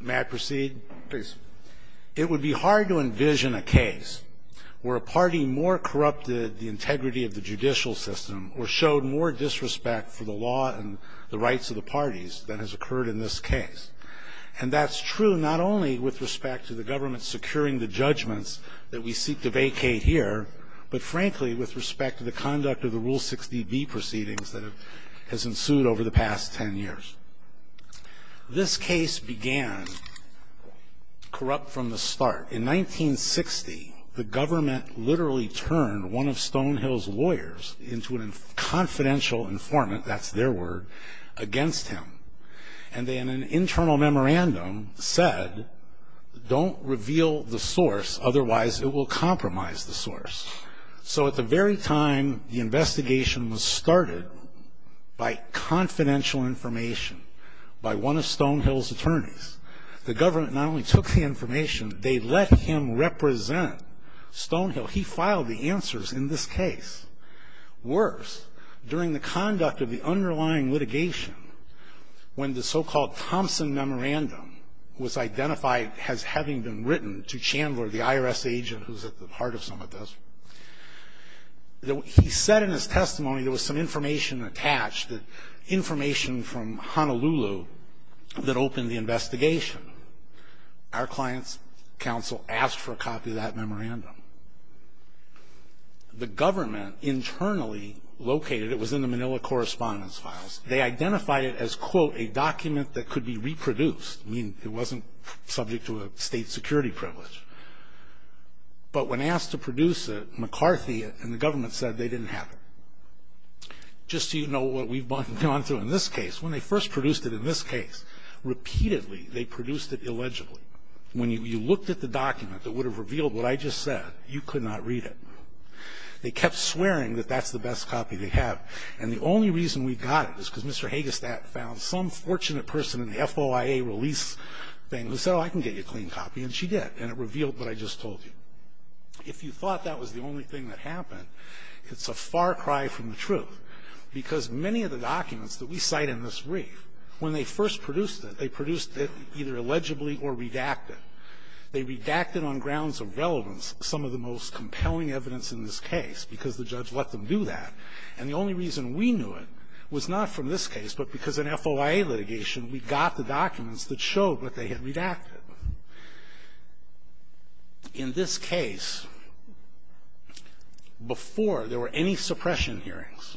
May I proceed? Please. It would be hard to envision a case where a party more corrupted the integrity of the judicial system or showed more disrespect for the law and the rights of the parties than has occurred in this case. And that's true not only with respect to the government securing the judgments that we seek to vacate here, but frankly with respect to the conduct of the Rule 60B proceedings that has ensued over the past 10 years. This case began corrupt from the start. In 1960, the government literally turned one of Stonehill's lawyers into a confidential informant, that's their word, against him. And then an internal memorandum said, don't reveal the source, otherwise it will compromise the source. So at the very time the investigation was started by confidential information, by one of Stonehill's attorneys, the government not only took the information, they let him represent Stonehill. He filed the answers in this case. Worse, during the conduct of the underlying litigation, when the so-called Thompson Memorandum was identified as having been written to Chandler, the IRS agent who's at the heart of some of this, he said in his testimony there was some information attached, information from Honolulu that opened the investigation. Our client's counsel asked for a copy of that memorandum. The government internally located it. It was in the Manila correspondence files. They identified it as, quote, a document that could be reproduced. I mean, it wasn't subject to a State security privilege. But when asked to produce it, McCarthy and the government said they didn't have it. Just so you know what we've gone through in this case, when they first produced it in this case, repeatedly they produced it illegibly. When you looked at the document that would have revealed what I just said, you could not read it. They kept swearing that that's the best copy they have. And the only reason we got it is because Mr. Hagestad found some fortunate person in the FOIA release thing who said, oh, I can get you a clean copy, and she did, and it revealed what I just told you. If you thought that was the only thing that happened, it's a far cry from the truth, because many of the documents that we cite in this brief, when they first produced it, they produced it either illegibly or redacted. They redacted on grounds of relevance some of the most compelling evidence in this case, because the judge let them do that. And the only reason we knew it was not from this case, but because in FOIA litigation we got the documents that showed what they had redacted. In this case, before there were any suppression hearings,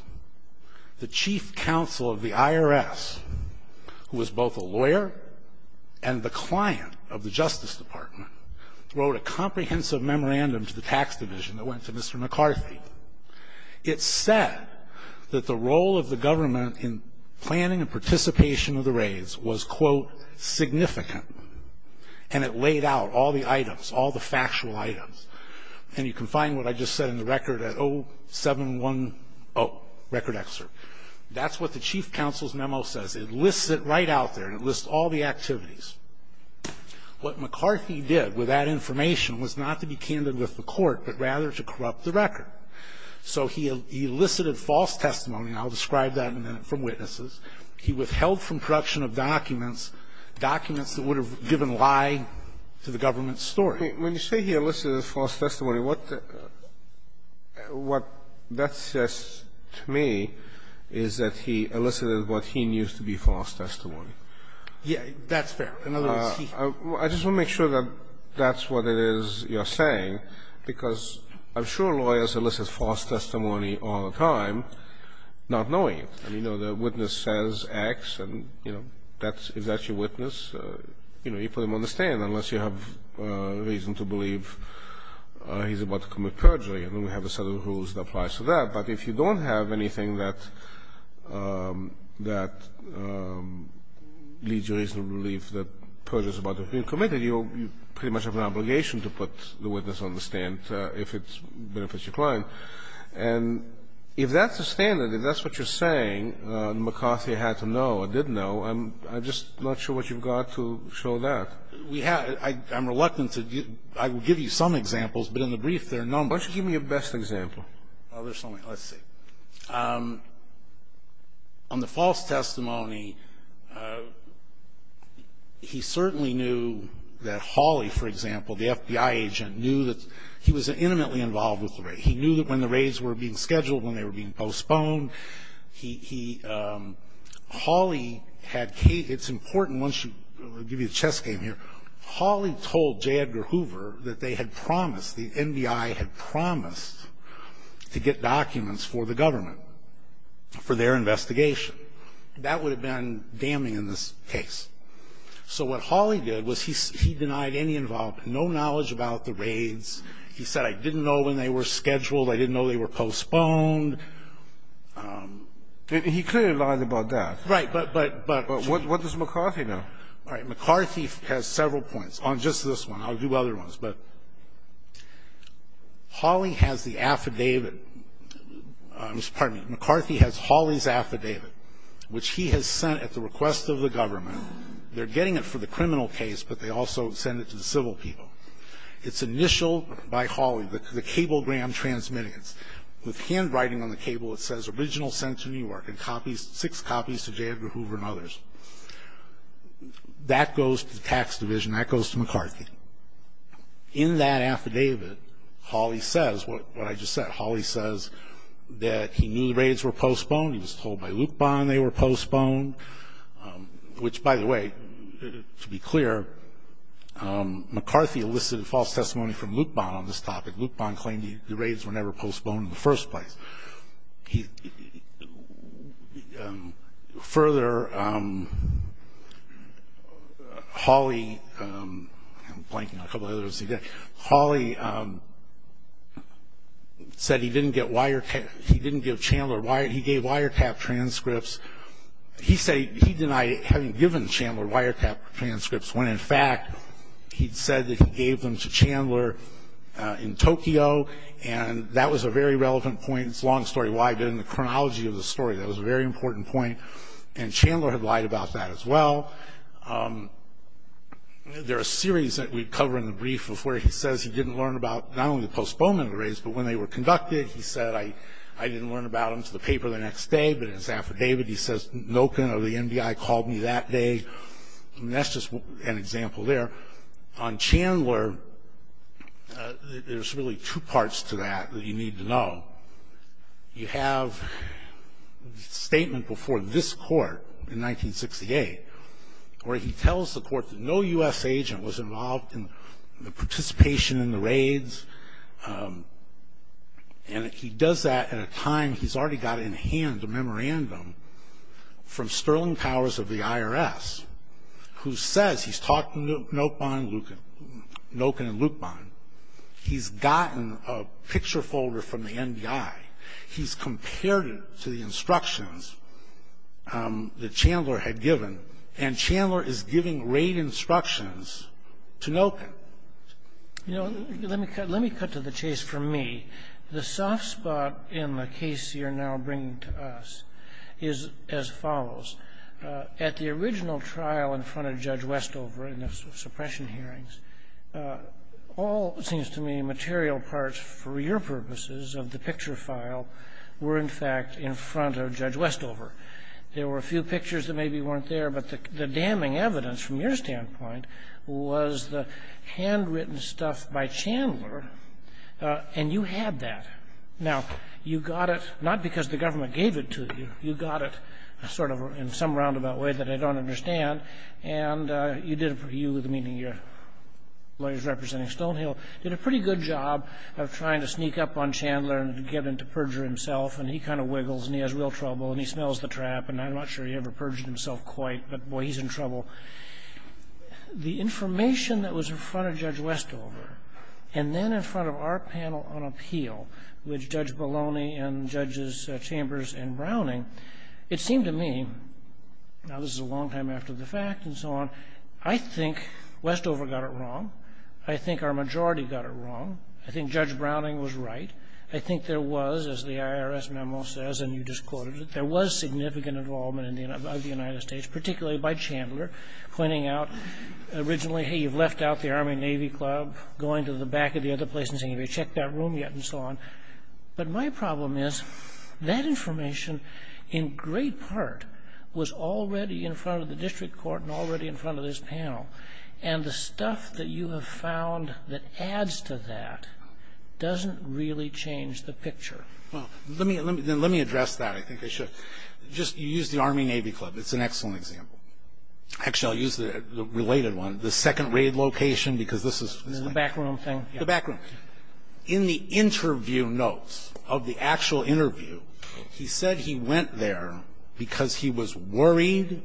the chief counsel of the IRS, who was both a lawyer and the client of the Justice Department, wrote a comprehensive memorandum to the tax division that went to Mr. McCarthy. It said that the role of the government in planning and participation of the raids was, quote, significant. And it laid out all the items, all the factual items. And you can find what I just said in the record at 0710, record excerpt. That's what the chief counsel's memo says. It lists it right out there, and it lists all the activities. What McCarthy did with that information was not to be candid with the court, but rather to corrupt the record. So he elicited false testimony, and I'll describe that in a minute, from witnesses. He withheld from production of documents, documents that would have given lie to the government's story. When you say he elicited false testimony, what that says to me is that he elicited what he knew to be false testimony. Yeah. That's fair. I just want to make sure that that's what it is you're saying, because I'm sure lawyers elicit false testimony all the time not knowing it. You know, the witness says X, and, you know, if that's your witness, you know, you have reason to believe he's about to commit perjury, and then we have a set of rules that applies to that. But if you don't have anything that leads you to believe that perjury is about to be committed, you pretty much have an obligation to put the witness on the stand if it benefits your client. And if that's the standard, if that's what you're saying, and McCarthy had to know or did know, I'm just not sure what you've got to show that. I'm reluctant to give you some examples, but in the brief, there are a number. Why don't you give me a best example? Oh, there's so many. Let's see. On the false testimony, he certainly knew that Hawley, for example, the FBI agent, knew that he was intimately involved with the raid. He knew that when the raids were being scheduled, when they were being postponed, he, Hawley had, it's important once you, I'll give you a chess game here. Hawley told J. Edgar Hoover that they had promised, the NBI had promised to get documents for the government for their investigation. That would have been damning in this case. So what Hawley did was he denied any involvement, no knowledge about the raids. He said, I didn't know when they were scheduled. I didn't know they were postponed. He clearly lied about that. Right, but, but, but. But what does McCarthy know? All right. McCarthy has several points on just this one. I'll do other ones. But Hawley has the affidavit, pardon me, McCarthy has Hawley's affidavit, which he has sent at the request of the government. They're getting it for the criminal case, but they also send it to the civil people. It's initialed by Hawley, the cablegram transmittance. With handwriting on the cable, it says, original sent to New York, and copies, six copies to J. Edgar Hoover and others. That goes to the tax division. That goes to McCarthy. In that affidavit, Hawley says what I just said. Hawley says that he knew the raids were postponed. He was told by Lupon they were postponed, which, by the way, to be clear, McCarthy elicited false testimony from Lupon on this topic. Lupon claimed the raids were never postponed in the first place. Further, Hawley, I'm blanking on a couple of others. Hawley said he didn't give Chandler, he gave Wiretap transcripts. He denied having given Chandler Wiretap transcripts, when, in fact, he'd said that he gave them to Chandler in Tokyo, and that was a very relevant point. It's a long story why, but in the chronology of the story, that was a very important point, and Chandler had lied about that as well. There are series that we cover in the brief of where he says he didn't learn about not only the postponed raids, but when they were conducted, he said, I didn't learn about them to the paper the next day, but in his affidavit he says Noken of the NBI called me that day, and that's just an example there. On Chandler, there's really two parts to that that you need to know. You have a statement before this Court in 1968, where he tells the Court that no U.S. agent was involved in the participation in the raids, and he does that at a time he's already got in hand a memorandum from Sterling Powers of the IRS, who says he's talked to Noken and Luqman. He's gotten a picture folder from the NBI. He's compared it to the instructions that Chandler had given, You know, let me cut to the chase for me. The soft spot in the case you're now bringing to us is as follows. At the original trial in front of Judge Westover in the suppression hearings, all, it seems to me, material parts for your purposes of the picture file were in fact in front of Judge Westover. There were a few pictures that maybe weren't there, but the damning evidence from your standpoint was the handwritten stuff by Chandler, and you had that. Now, you got it not because the government gave it to you. You got it sort of in some roundabout way that I don't understand, and you, meaning your lawyers representing Stonehill, did a pretty good job of trying to sneak up on Chandler and get him to perjure himself, and he kind of wiggles, and he has real trouble, and he smells the trap, and I'm not sure he ever perjured himself quite, but, boy, he's in trouble. The information that was in front of Judge Westover and then in front of our panel on appeal, which Judge Baloney and Judges Chambers and Browning, it seemed to me, now this is a long time after the fact and so on, I think Westover got it wrong. I think our majority got it wrong. I think Judge Browning was right. I think there was, as the IRS memo says, and you just quoted it, there was significant involvement of the United States, particularly by Chandler, pointing out originally, hey, you've left out the Army-Navy Club, going to the back of the other place and saying, have you checked that room yet, and so on. But my problem is that information in great part was already in front of the district court and already in front of this panel, and the stuff that you have found that adds to that doesn't really change the picture. Well, let me address that. I think I should. Just use the Army-Navy Club. It's an excellent example. Actually, I'll use the related one, the second raid location, because this is. The backroom thing. The backroom. In the interview notes of the actual interview, he said he went there because he was worried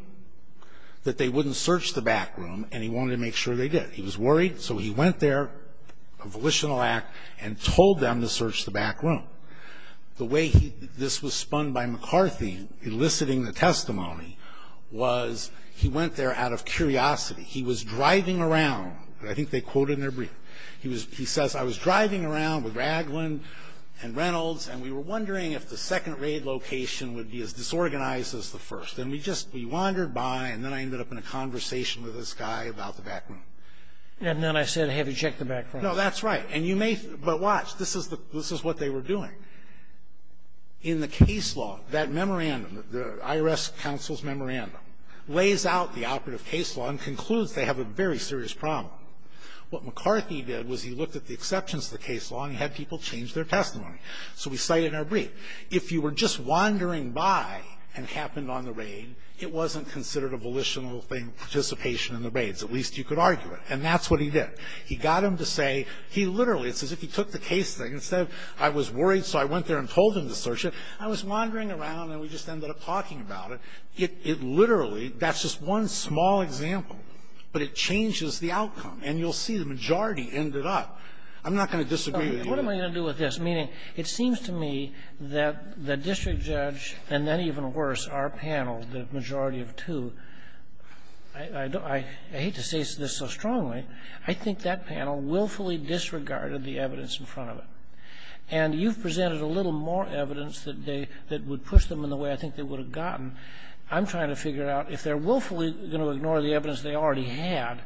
that they wouldn't search the backroom, and he wanted to make sure they did. He was worried, so he went there, a volitional act, and told them to search the backroom. The way this was spun by McCarthy, eliciting the testimony, was he went there out of curiosity. He was driving around. I think they quoted in their brief. He says, I was driving around with Ragland and Reynolds, and we were wondering if the second raid location would be as disorganized as the first. And we just wandered by, and then I ended up in a conversation with this guy about the backroom. And then I said, have you checked the backroom? No, that's right. And you may, but watch, this is what they were doing. In the case law, that memorandum, the IRS counsel's memorandum, lays out the operative case law and concludes they have a very serious problem. What McCarthy did was he looked at the exceptions to the case law, and he had people change their testimony. So we cite it in our brief. If you were just wandering by and it happened on the raid, it wasn't considered a volitional thing, participation in the raids. At least you could argue it. And that's what he did. He got them to say, he literally, it's as if he took the case thing and said, I was worried, so I went there and told them to search it. I was wandering around, and we just ended up talking about it. It literally, that's just one small example, but it changes the outcome. And you'll see the majority ended up. I'm not going to disagree with you on that. Kennedy. What am I going to do with this? Meaning, it seems to me that the district judge, and then even worse, our panel, the majority of two, I hate to say this so strongly. I think that panel willfully disregarded the evidence in front of it. And you've presented a little more evidence that they, that would push them in the way I think they would have gotten. I'm trying to figure out, if they're willfully going to ignore the evidence they already had,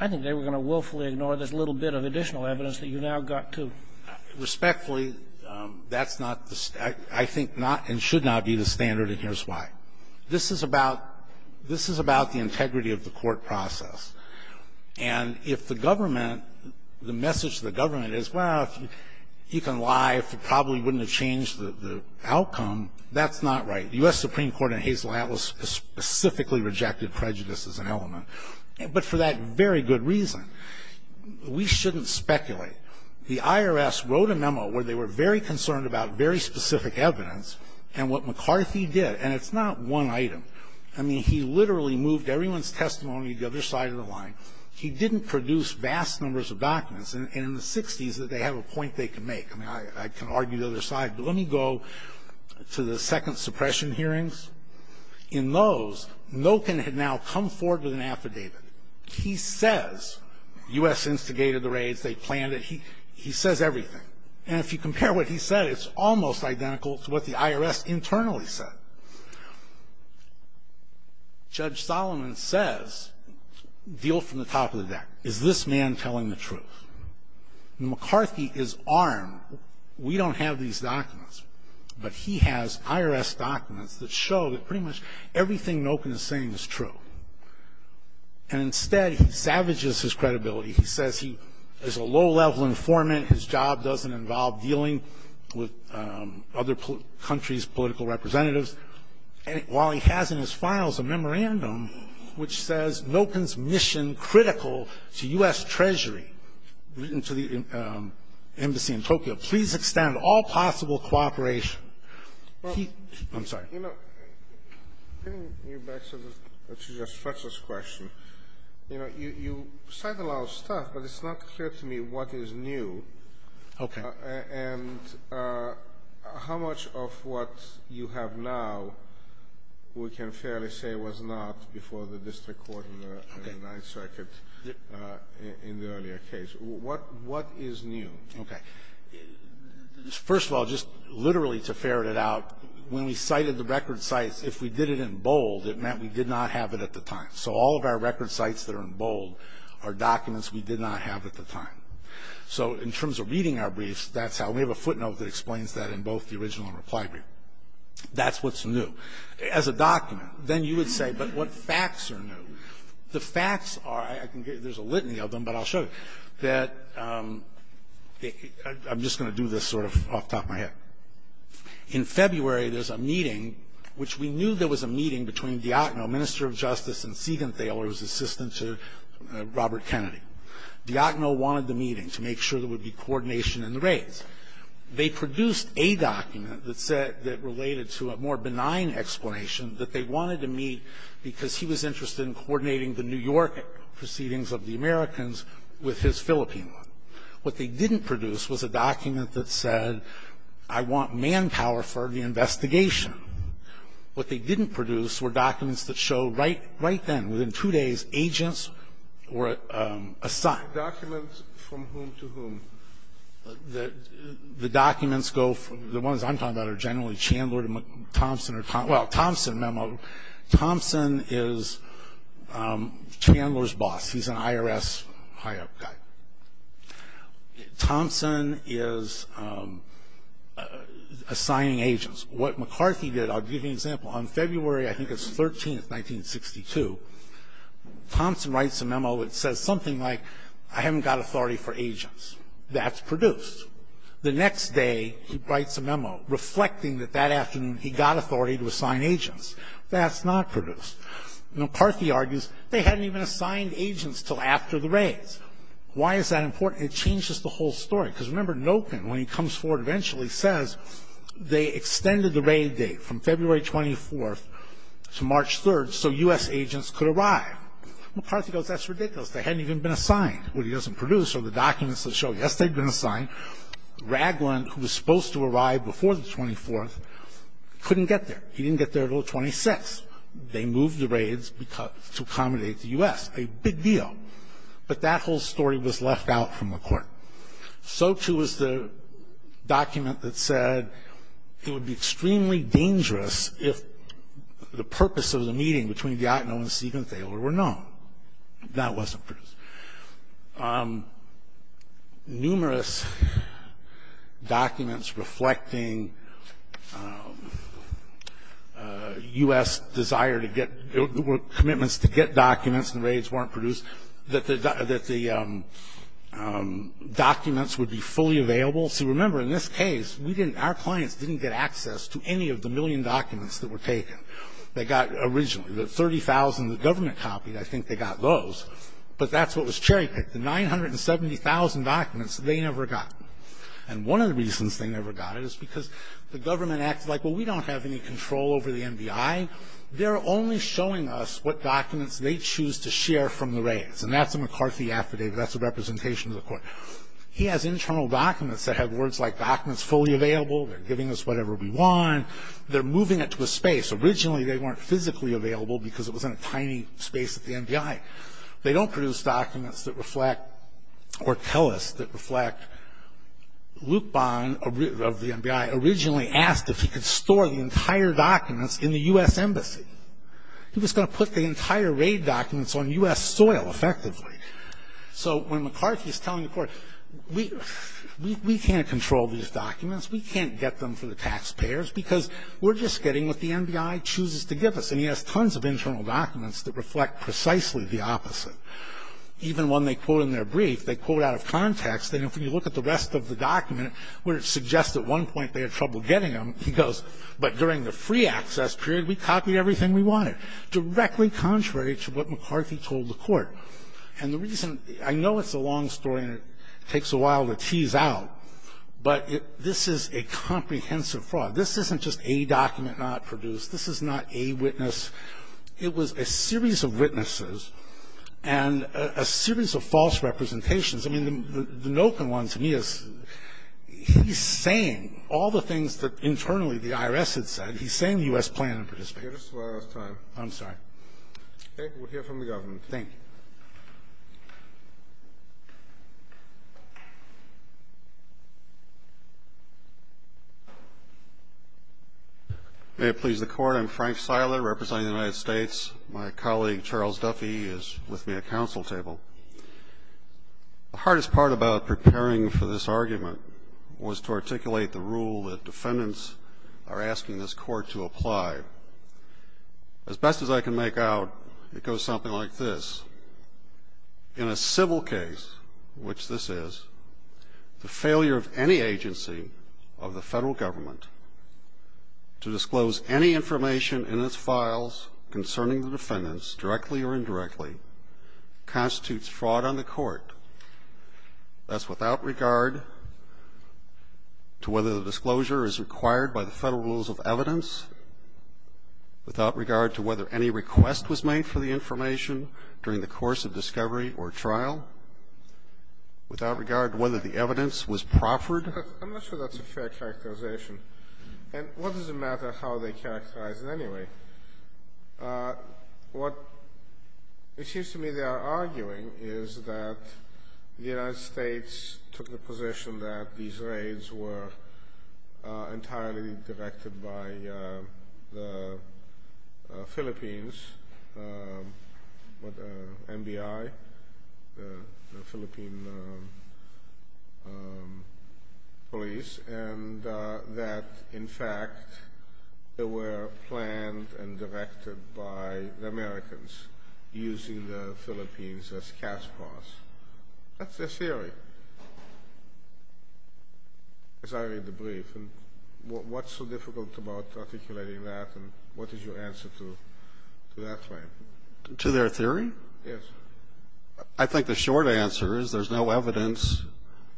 I think they were going to willfully ignore this little bit of additional evidence that you now got, too. Respectfully, that's not the, I think not and should not be the standard, and here's why. This is about, this is about the integrity of the court process. And if the government, the message to the government is, well, you can lie if it probably wouldn't have changed the outcome, that's not right. The U.S. Supreme Court in Hazel Atlas specifically rejected prejudice as an element, but for that very good reason. We shouldn't speculate. The IRS wrote a memo where they were very concerned about very specific evidence and what McCarthy did, and it's not one item. I mean, he literally moved everyone's testimony to the other side of the line. He didn't produce vast numbers of documents. And in the 60s, they have a point they can make. I mean, I can argue the other side, but let me go to the second suppression hearings. In those, Noken had now come forward with an affidavit. He says U.S. instigated the raids. They planned it. He says everything. And if you compare what he said, it's almost identical to what the IRS internally said. Judge Solomon says, deal from the top of the deck, is this man telling the truth? McCarthy is armed. We don't have these documents, but he has IRS documents that show that pretty much everything Noken is saying is true. And instead, he savages his credibility. He says he is a low-level informant. His job doesn't involve dealing with other countries' political representatives. While he has in his files a memorandum which says, Noken's mission critical to U.S. Treasury, written to the embassy in Tokyo, please extend all possible cooperation. I'm sorry. You know, getting you back to your specialist question, you know, you cite a lot of stuff, but it's not clear to me what is new. Okay. And how much of what you have now we can fairly say was not before the district court in the Ninth Circuit in the earlier case? What is new? Okay. First of all, just literally to ferret it out, when we cited the record sites, if we did it in bold, it meant we did not have it at the time. So all of our record sites that are in bold are documents we did not have at the time. So in terms of reading our briefs, that's how we have a footnote that explains that in both the original and reply brief. That's what's new. As a document, then you would say, but what facts are new? The facts are, there's a litany of them, but I'll show you, that I'm just going to do this sort of off the top of my head. In February, there's a meeting, which we knew there was a meeting between Diagno, Minister of Justice, and Siegenthaler's assistant to Robert Kennedy. Diagno wanted the meeting to make sure there would be coordination in the raids. They produced a document that said that related to a more benign explanation that they wanted to meet because he was interested in coordinating the New York proceedings of the Americans with his Philippine one. What they didn't produce was a document that said, I want manpower for the investigation. What they didn't produce were documents that showed right then, within two days, agents were assigned. Documents from whom to whom? The documents go, the ones I'm talking about are generally Chandler to Thompson, or, well, Thompson memo. Thompson is Chandler's boss. He's an IRS high up guy. Thompson is assigning agents. What McCarthy did, I'll give you an example. On February, I think it's 13th, 1962, Thompson writes a memo. It says something like, I haven't got authority for agents. That's produced. The next day, he writes a memo reflecting that that afternoon, he got authority to assign agents. That's not produced. McCarthy argues, they hadn't even assigned agents until after the raids. Why is that important? It changes the whole story. Because, remember, Nopan, when he comes forward eventually, says they extended the raid date from February 24th to March 3rd, so U.S. agents could arrive. McCarthy goes, that's ridiculous. They hadn't even been assigned. What he doesn't produce are the documents that show, yes, they'd been assigned. Ragland, who was supposed to arrive before the 24th, couldn't get there. He didn't get there until the 26th. They moved the raids to accommodate the U.S., a big deal. But that whole story was left out from the court. So, too, is the document that said it would be extremely dangerous if the purpose of the meeting between Diagno and Siebenthaler were known. That wasn't produced. Numerous documents reflecting U.S. desire to get – commitments to get documents and raids weren't produced, that the documents would be fully available. See, remember, in this case, our clients didn't get access to any of the million documents that were taken. They got originally the 30,000 the government copied. I think they got those. But that's what was cherry-picked, the 970,000 documents they never got. And one of the reasons they never got it is because the government acted like, well, we don't have any control over the NBI. They're only showing us what documents they choose to share from the raids. And that's a McCarthy affidavit. That's a representation to the court. He has internal documents that have words like documents fully available. They're giving us whatever we want. They're moving it to a space. Originally, they weren't physically available because it was in a tiny space at the NBI. They don't produce documents that reflect or tell us that reflect. Luke Bond, of the NBI, originally asked if he could store the entire documents in the U.S. Embassy. He was going to put the entire raid documents on U.S. soil, effectively. So when McCarthy is telling the court, we can't control these documents. We can't get them for the taxpayers because we're just getting what the NBI chooses to give us. And he has tons of internal documents that reflect precisely the opposite. Even when they quote in their brief, they quote out of context, and if you look at the rest of the document, where it suggests at one point they had trouble getting them, he goes, but during the free access period, we copied everything we wanted. Directly contrary to what McCarthy told the court. And the reason, I know it's a long story and it takes a while to tease out, but this is a comprehensive fraud. This isn't just a document not produced. This is not a witness. It was a series of witnesses and a series of false representations. I mean, the Noken one to me is, he's saying all the things that internally the IRS had said. He's saying the U.S. planned to participate. I'm sorry. We'll hear from the government. Thank you. May it please the Court. I'm Frank Seiler, representing the United States. My colleague, Charles Duffy, is with me at the council table. The hardest part about preparing for this argument was to articulate the rule that defendants are asking this court to apply. As best as I can make out, it goes something like this. In a civil case, which this is, the failure of any agency of the federal government to disclose any information in its files concerning the defendants, directly or indirectly, constitutes fraud on the court. That's without regard to whether the disclosure is required by the federal rules of evidence, without regard to whether any request was made for the information during the course of discovery or trial, without regard to whether the evidence was proffered. I'm not sure that's a fair characterization. And what does it matter how they characterize it anyway? What it seems to me they are arguing is that the United States took the position that these raids were entirely directed by the Philippines, MBI, the Philippine police, and that, in fact, they were planned and directed by the Americans, using the Philippines as cat's paws. That's their theory, as I read the brief. And what's so difficult about articulating that, and what is your answer to that claim? To their theory? Yes. I think the short answer is there's no evidence,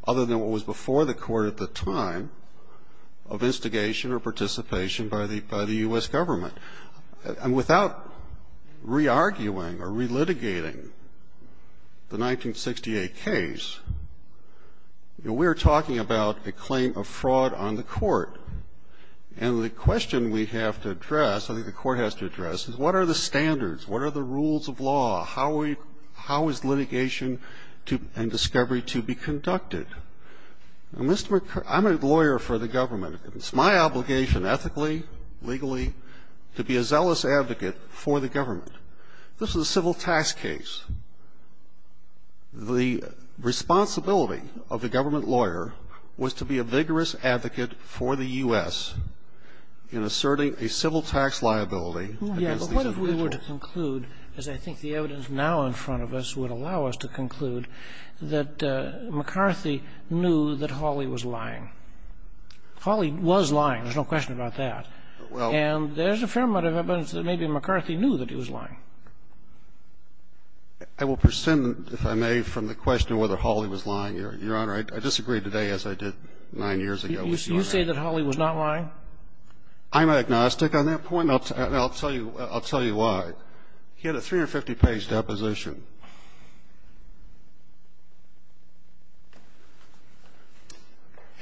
other than what was before the court at the time, of instigation or participation by the U.S. government. And without re-arguing or re-litigating the 1968 case, we're talking about a claim of fraud on the court. And the question we have to address, I think the court has to address, is what are the standards? What are the rules of law? How is litigation and discovery to be conducted? I'm a lawyer for the government. It's my obligation, ethically, legally, to be a zealous advocate for the government. This is a civil tax case. The responsibility of the government lawyer was to be a vigorous advocate for the U.S. in asserting a civil tax liability against these individuals. Yes, but what if we were to conclude, as I think the evidence now in front of us would allow us to conclude, that McCarthy knew that Hawley was lying? Hawley was lying. There's no question about that. And there's a fair amount of evidence that maybe McCarthy knew that he was lying. I will present, if I may, from the question of whether Hawley was lying, Your Honor. I disagree today as I did nine years ago. You say that Hawley was not lying? I'm agnostic on that point, and I'll tell you why. He had a 350-page deposition.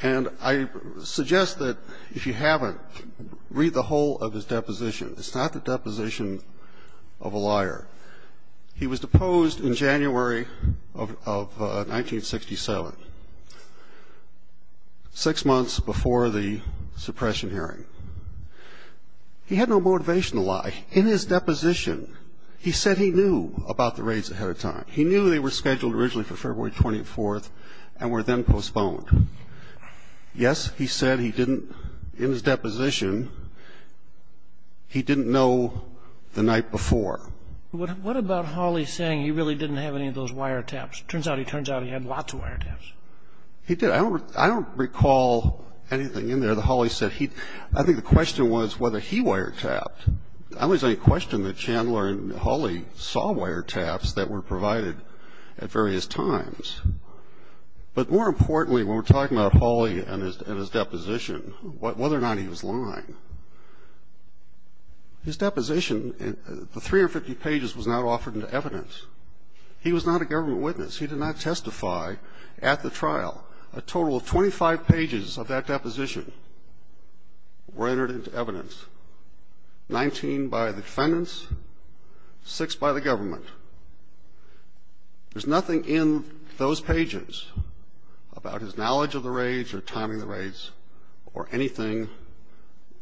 And I suggest that if you haven't, read the whole of his deposition. It's not the deposition of a liar. He was deposed in January of 1967, six months before the suppression hearing. He had no motivation to lie. In his deposition, he said he knew about the raids ahead of time. He knew they were scheduled originally for February 24th and were then postponed. Yes, he said he didn't. In his deposition, he didn't know the night before. What about Hawley saying he really didn't have any of those wiretaps? It turns out he had lots of wiretaps. He did. I don't recall anything in there that Hawley said. I think the question was whether he wiretapped. I always like to question the Chandler and Hawley saw wiretaps that were provided at various times. But more importantly, when we're talking about Hawley and his deposition, whether or not he was lying, his deposition, the 350 pages, was not offered into evidence. He was not a government witness. He did not testify at the trial. A total of 25 pages of that deposition were entered into evidence. Nineteen by the defendants, six by the government. There's nothing in those pages about his knowledge of the raids or timing the raids or anything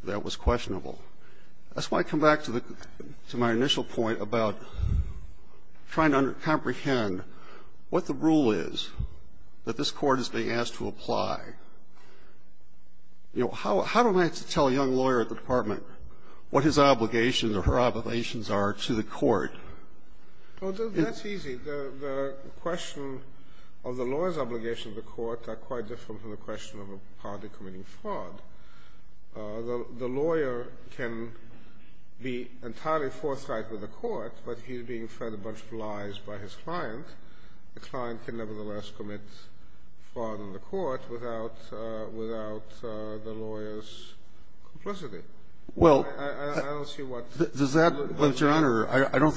that was questionable. That's why I come back to my initial point about trying to comprehend what the rule is that this court is being asked to apply. You know, how do I have to tell a young lawyer at the department what his obligations or her obligations are to the court? Well, that's easy. The question of the lawyer's obligation to the court are quite different from the question of a party committing fraud. The lawyer can be entirely forthright with the court, but he's being fed a bunch of lies by his client. The client can, nevertheless, commit fraud in the court without the lawyer's complicity. Well, I don't see what's wrong with that. But, Your Honor, I don't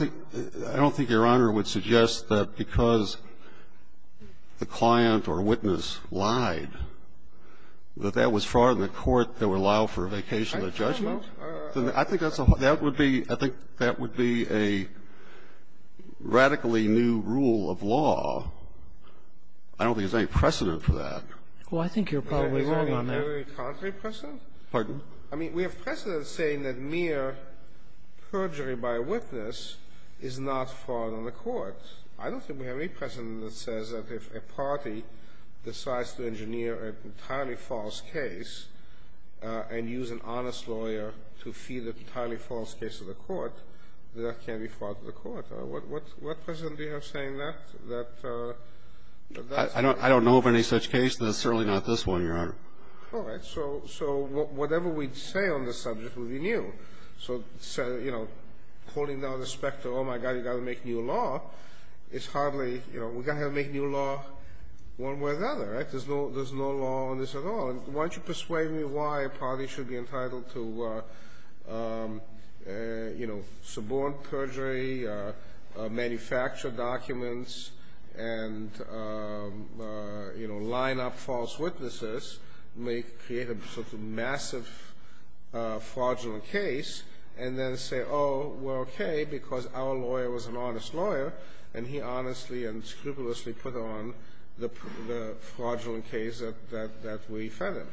think Your Honor would suggest that because the client or witness lied, that that was fraud in the court that would allow for a vacation of judgment. I don't know. I think that would be a radically new rule of law. I don't think there's any precedent for that. Well, I think you're probably wrong on that. Is there a contrary precedent? Pardon? I mean, we have precedent saying that mere perjury by a witness is not fraud on the court. I don't think we have any precedent that says that if a party decides to engineer an entirely false case and use an honest lawyer to feed an entirely false case to the court, that that can't be fraud to the court. What precedent do you have saying that? I don't know of any such case, and it's certainly not this one, Your Honor. All right. So whatever we say on the subject will be new. So, you know, holding down the specter, oh, my God, you've got to make new law, it's hardly, you know, we've got to make new law one way or the other. There's no law on this at all. Why don't you persuade me why a party should be entitled to, you know, suborn perjury, manufacture documents, and, you know, line up false witnesses, create a sort of massive fraudulent case, and then say, oh, we're okay because our lawyer was an honest lawyer, and he honestly and scrupulously put on the fraudulent case that we fed him.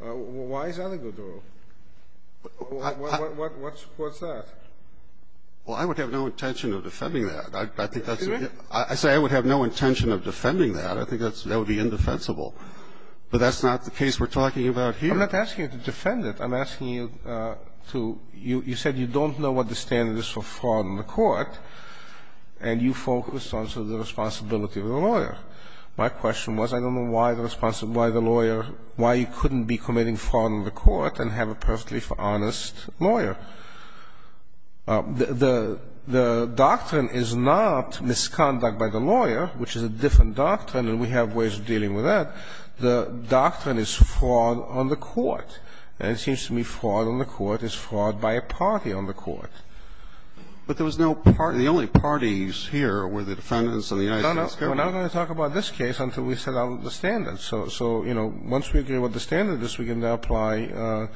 Why is that a good rule? What's that? Well, I would have no intention of defending that. I think that's a good rule. I say I would have no intention of defending that. I think that would be indefensible. But that's not the case we're talking about here. I'm not asking you to defend it. I'm asking you to you said you don't know what the standard is for fraud in the court, and you focused on the responsibility of the lawyer. My question was I don't know why the lawyer, why you couldn't be committing fraud in the court and have a perfectly honest lawyer. The doctrine is not misconduct by the lawyer, which is a different doctrine, and we have ways of dealing with that. The doctrine is fraud on the court, and it seems to me fraud on the court is fraud by a party on the court. But there was no party. The only parties here were the defendants and the United States government. No, no. We're not going to talk about this case until we set out the standards. So, you know, once we agree what the standard is, we can now apply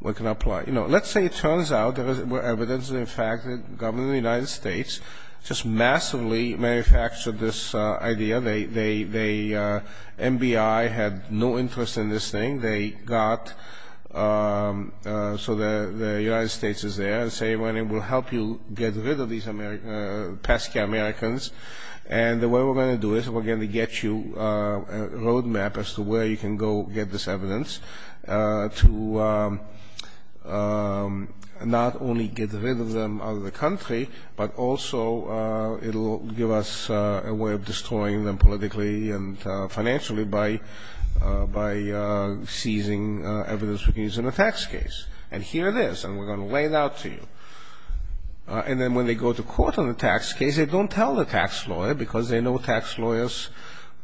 what can apply. You know, let's say it turns out there was evidence in fact that the government of the United States just massively manufactured this idea. The MBI had no interest in this thing. They got so the United States is there and say, well, it will help you get rid of these Pesky Americans. And the way we're going to do it is we're going to get you a road map as to where you can go get this evidence to not only get rid of them out of the country, but also it will give us a way of destroying them politically and financially by seizing evidence we can use in a tax case. And here it is, and we're going to lay it out to you. And then when they go to court on the tax case, they don't tell the tax lawyer because they know tax lawyers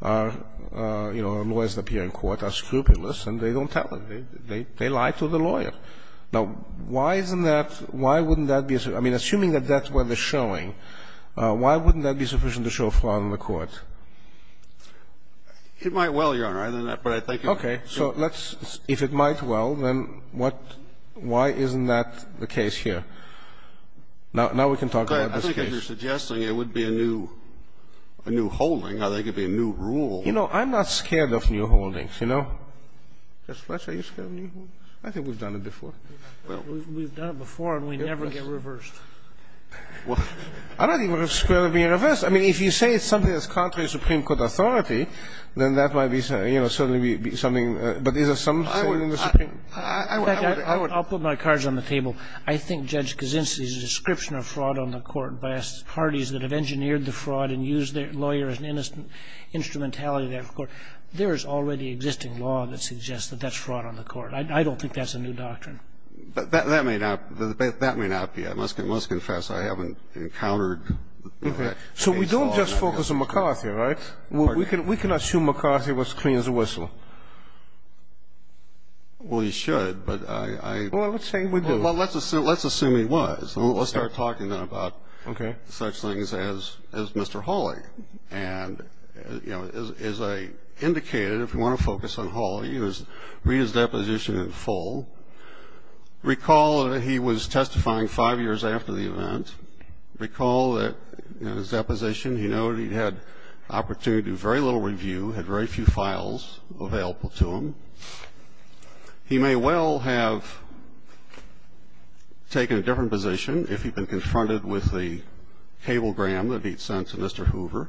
are, you know, lawyers that appear in court are scrupulous, and they don't tell them. They lie to the lawyer. Now, why isn't that why wouldn't that be? I mean, assuming that that's what they're showing, why wouldn't that be sufficient to show fraud in the court? It might well, Your Honor, but I think you're right. Okay. So let's, if it might well, then what, why isn't that the case here? Now we can talk about this case. I think if you're suggesting it would be a new holding, I think it would be a new rule. You know, I'm not scared of new holdings, you know. Just what are you scared of new holdings? I think we've done it before. We've done it before, and we never get reversed. Well, I don't think we're scared of being reversed. I mean, if you say it's something that's contrary to Supreme Court authority, then that might be, you know, certainly be something. But is it something in the Supreme Court? I would, I would. In fact, I'll put my cards on the table. I think Judge Kaczynski's description of fraud on the court by parties that have engineered the fraud and used their lawyer as an instrumentality of that court, there is already existing law that suggests that that's fraud on the court. I don't think that's a new doctrine. That may not be. I must confess I haven't encountered that case law. So we don't just focus on McCarthy, right? We can assume McCarthy was clean as a whistle. Well, you should, but I don't. Well, let's say we do. Well, let's assume he was. Let's start talking then about such things as Mr. Hawley. And, you know, as I indicated, if you want to focus on Hawley, read his deposition in full. Recall that he was testifying five years after the event. Recall that in his deposition he noted he had opportunity to do very little review, had very few files available to him. He may well have taken a different position if he'd been confronted with the cable gram that he'd sent to Mr. Hoover.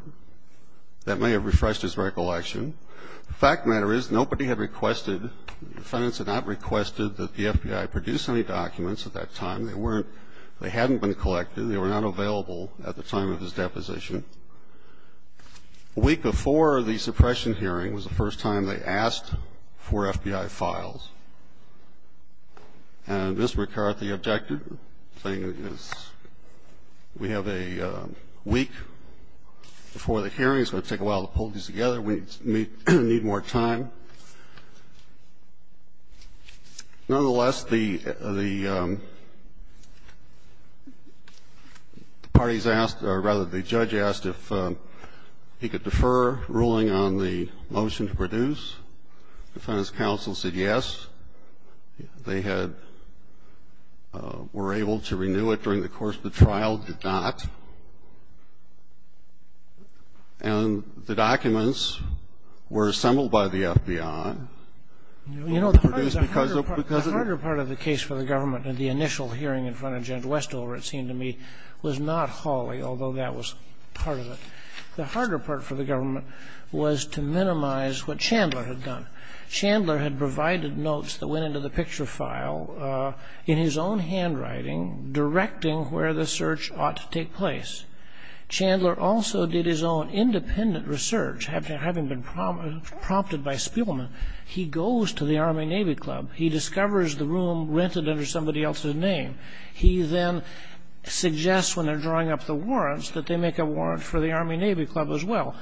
That may have refreshed his recollection. The fact of the matter is nobody had requested, the defendants had not requested that the FBI produce any documents at that time. They weren't they hadn't been collected. They were not available at the time of his deposition. A week before the suppression hearing was the first time they asked for FBI files. And Mr. McCarthy objected, saying we have a week before the hearing, it's going to take a while to pull these together, we need more time. Nonetheless, the parties asked, or rather, the judge asked, if he could defer ruling on the motion to produce. Defendant's counsel said yes. They had, were able to renew it during the course of the trial, did not. And the documents were assembled by the FBI. They were produced because of it. The harder part of the case for the government in the initial hearing in front of Judge McCarthy was to minimize what Chandler had done. Chandler had provided notes that went into the picture file in his own handwriting directing where the search ought to take place. Chandler also did his own independent research, having been prompted by Spielman. He goes to the Army-Navy Club. He discovers the room rented under somebody else's name. He then suggests when they're drawing up the warrants that they make a warrant for the Army-Navy Club as well.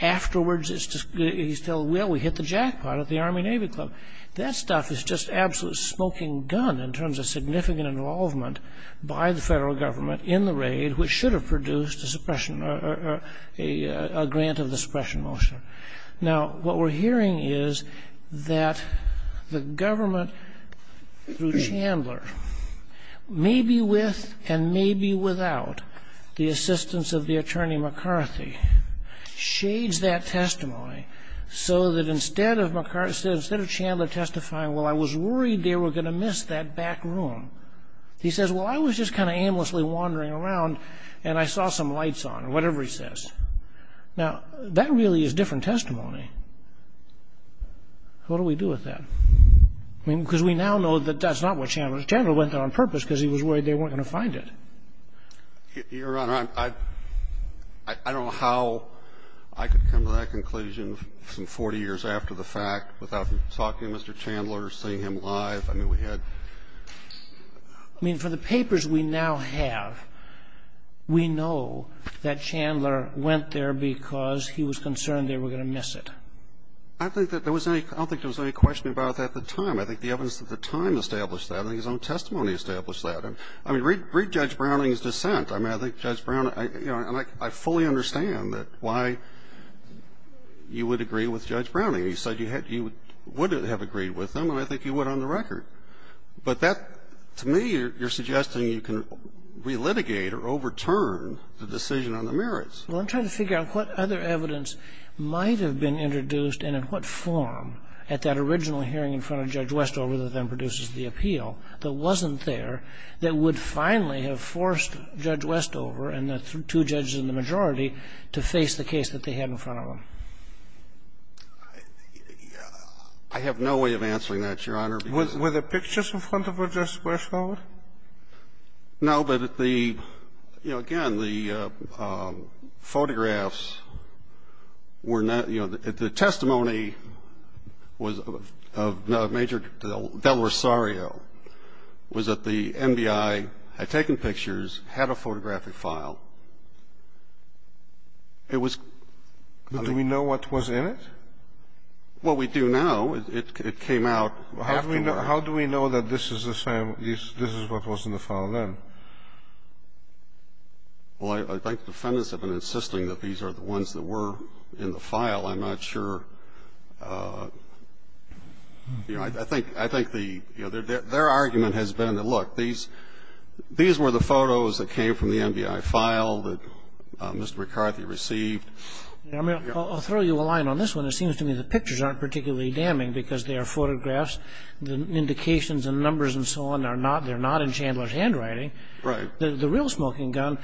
Afterwards, he's told, well, we hit the jackpot at the Army-Navy Club. That stuff is just absolute smoking gun in terms of significant involvement by the Federal Government in the raid, which should have produced a suppression or a grant of the suppression motion. Now, what we're hearing is that the government through Chandler, maybe with and maybe without the assistance of the attorney McCarthy, shades that testimony so that instead of Chandler testifying, well, I was worried they were going to miss that back room. He says, well, I was just kind of aimlessly wandering around and I saw some lights on or whatever he says. Now, that really is different testimony. What do we do with that? I mean, because we now know that that's not what Chandler did. Chandler went there on purpose because he was worried they weren't going to find it. Your Honor, I don't know how I could come to that conclusion some 40 years after the fact without talking to Mr. Chandler or seeing him live. I mean, for the papers we now have, we know that Chandler went there because he was concerned they were going to miss it. I don't think there was any question about that at the time. I think the evidence at the time established that. I think his own testimony established that. I mean, read Judge Browning's dissent. I mean, I think Judge Browning, you know, and I fully understand why you would agree with Judge Browning. I mean, you said you would have agreed with him and I think you would on the record. But that, to me, you're suggesting you can relitigate or overturn the decision on the merits. Well, I'm trying to figure out what other evidence might have been introduced and in what form at that original hearing in front of Judge Westover that then produces the appeal that wasn't there that would finally have forced Judge Westover and the two judges in the majority to face the case that they had in front of them. I have no way of answering that, Your Honor, because Were there pictures in front of Judge Westover? No, but the, you know, again, the photographs were not, you know, the testimony was of Major Del Rosario was that the MBI had taken pictures, had a photographic file. It was Do we know what was in it? Well, we do now. It came out How do we know that this is the same, this is what was in the file then? Well, I think defendants have been insisting that these are the ones that were in the file. I'm not sure. You know, I think, I think the, you know, their argument has been that, look, these were the photos that came from the MBI file that Mr. McCarthy received. I mean, I'll throw you a line on this one. It seems to me the pictures aren't particularly damning because they are photographs. The indications and numbers and so on are not, they're not in Chandler's handwriting. Right. The real smoking gun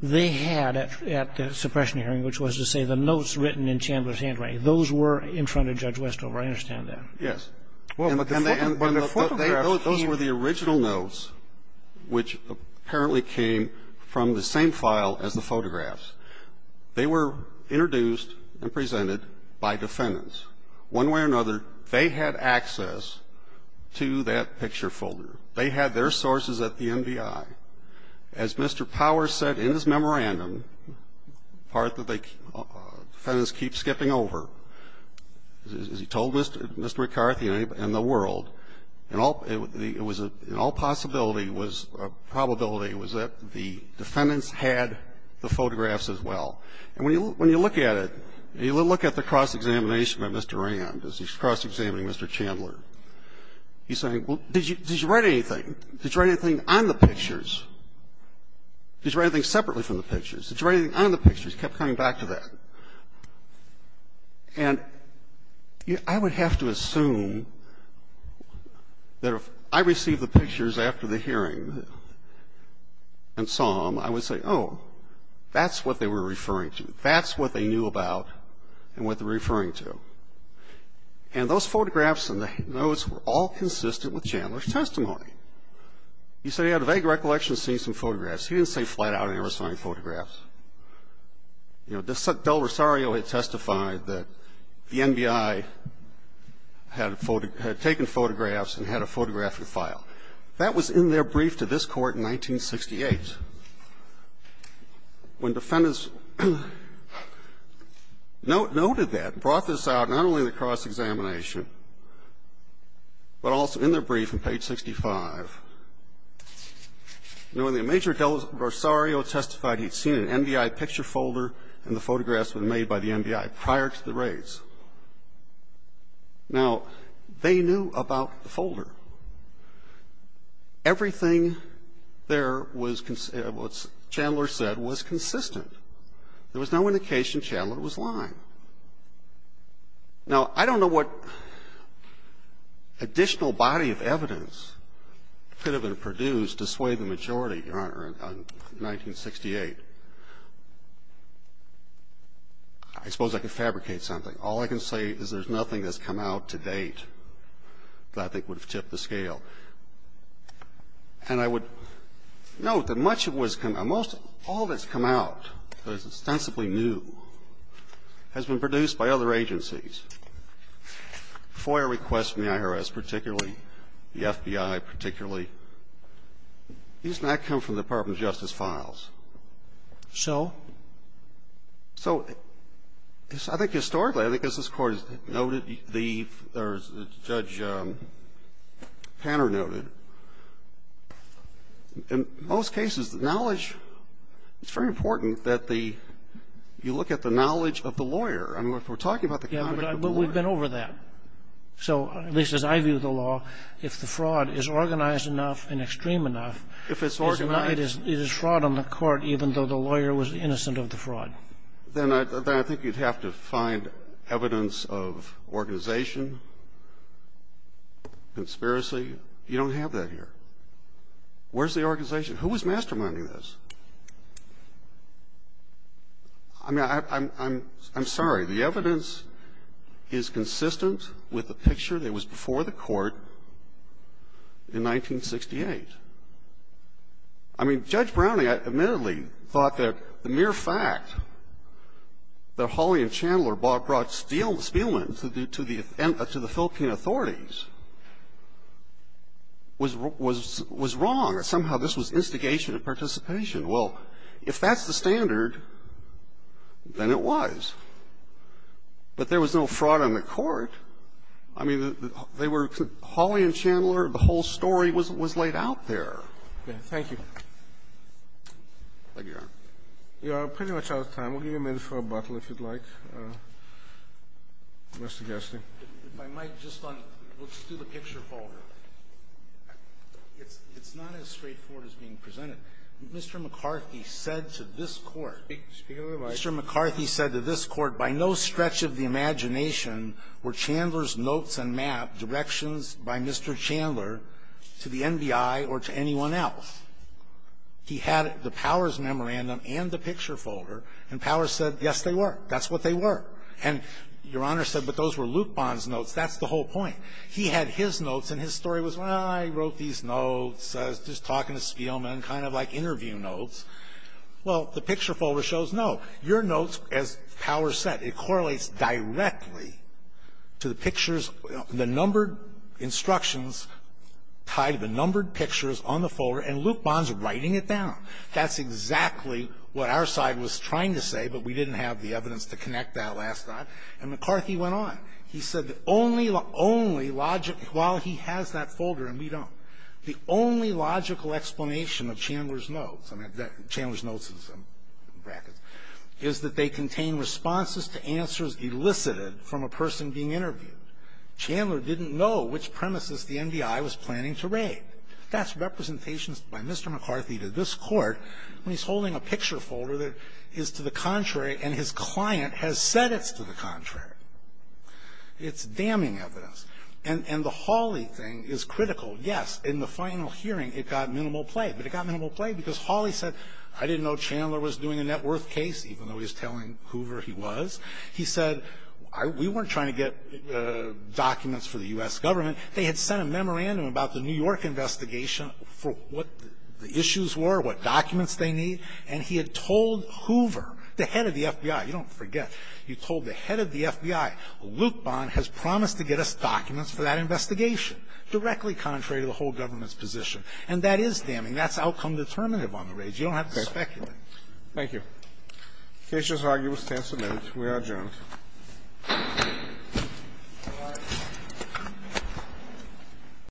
they had at the suppression hearing, which was to say the notes written in Chandler's handwriting. Those were in front of Judge Westover. I understand that. Yes. Well, but the photographs came Those were the original notes, which apparently came from the same file as the photographs. They were introduced and presented by defendants. One way or another, they had access to that picture folder. They had their sources at the MBI. As Mr. Powers said in his memorandum, part that they, defendants keep skipping over, as he told Mr. McCarthy and the world, it was in all possibility was, probability was that the defendants had the photographs as well. And when you look at it, when you look at the cross-examination by Mr. Rand, as he's cross-examining Mr. Chandler, he's saying, well, did you write anything? Did you write anything on the pictures? Did you write anything separately from the pictures? Did you write anything on the pictures? He just kept coming back to that. And I would have to assume that if I received the pictures after the hearing and saw them, I would say, oh, that's what they were referring to. That's what they knew about and what they're referring to. And those photographs and the notes were all consistent with Chandler's testimony. He said he had a vague recollection of seeing some photographs. He didn't say flat out he never saw any photographs. You know, Del Rosario had testified that the NBI had taken photographs and had a photographic file. That was in their brief to this Court in 1968. When defendants noted that, brought this out not only in the cross-examination, but also in their brief on page 65. You know, when Major Del Rosario testified he'd seen an NBI picture folder and the photographs were made by the NBI prior to the raids. Now, they knew about the folder. Everything there was what Chandler said was consistent. There was no indication Chandler was lying. Now, I don't know what additional body of evidence could have been produced to sway the majority, Your Honor, in 1968. I suppose I could fabricate something. All I can say is there's nothing that's come out to date that I think would have tipped the scale. And I would note that much of what has come out, most of it, all of it has come out that is ostensibly new, has been produced by other agencies. FOIA requests from the IRS particularly, the FBI particularly, these do not come from the Department of Justice files. So? So I think historically, I think as this Court has noted, the Judge Tanner noted, in most cases, knowledge, it's very important that you look at the knowledge of the lawyer. I mean, if we're talking about the conduct of the lawyer. Yeah, but we've been over that. So at least as I view the law, if the fraud is organized enough and extreme enough, it is fraud on the Court even though the lawyer was innocent of the fraud. Then I think you'd have to find evidence of organization, conspiracy. You don't have that here. Where's the organization? Who was masterminding this? I mean, I'm sorry. The evidence is consistent with the picture that was before the Court in 1968. I mean, Judge Browning admittedly thought that the mere fact that Hawley and Chandler brought Spielman to the Philippine authorities was wrong. Somehow this was instigation and participation. Well, if that's the standard, then it was. But there was no fraud on the Court. I mean, they were – Hawley and Chandler, the whole story was laid out there. Okay. Thank you. Thank you, Your Honor. We are pretty much out of time. We'll give you a minute for a bottle, if you'd like. Mr. Gerstin. If I might, just on – let's do the picture folder. It's not as straightforward as being presented. Mr. McCarthy said to this Court – Speak to the mic. Mr. McCarthy said to this Court, by no stretch of the imagination were Chandler's notes and map directions by Mr. Chandler to the NBI or to anyone else. He had the Powers memorandum and the picture folder, and Powers said, yes, they were. That's what they were. And Your Honor said, but those were Luke Bond's notes. That's the whole point. He had his notes, and his story was, well, I wrote these notes. I was just talking to Spielman, kind of like interview notes. Well, the picture folder shows, no, your notes, as Powers said, it correlates directly to the pictures, the numbered instructions tied to the numbered pictures on the folder, and Luke Bond's writing it down. That's exactly what our side was trying to say, but we didn't have the evidence to connect that last time. And McCarthy went on. He said the only logical – while he has that folder and we don't, the only logical explanation of Chandler's notes – I mean, Chandler's notes is in brackets – is that they contain responses to answers elicited from a person being interviewed. Chandler didn't know which premises the NBI was planning to raid. That's representations by Mr. McCarthy to this Court when he's holding a picture folder that is to the contrary, and his client has said it's to the contrary. It's damning evidence. And the Hawley thing is critical. Yes, in the final hearing, it got minimal play, but it got minimal play because Hawley said, I didn't know Chandler was doing a net worth case, even though he was telling Hoover he was. He said, we weren't trying to get documents for the U.S. government. They had sent a memorandum about the New York investigation for what the issues were, what documents they need, and he had told Hoover, the head of the FBI – you don't forget – he told the head of the FBI, Luke Bond has promised to get us documents for that investigation, directly contrary to the whole government's position. And that is damning. That's outcome determinative on the raids. You don't have to speculate. Thank you. The case is argued with stance admitted. We are adjourned. Thank you.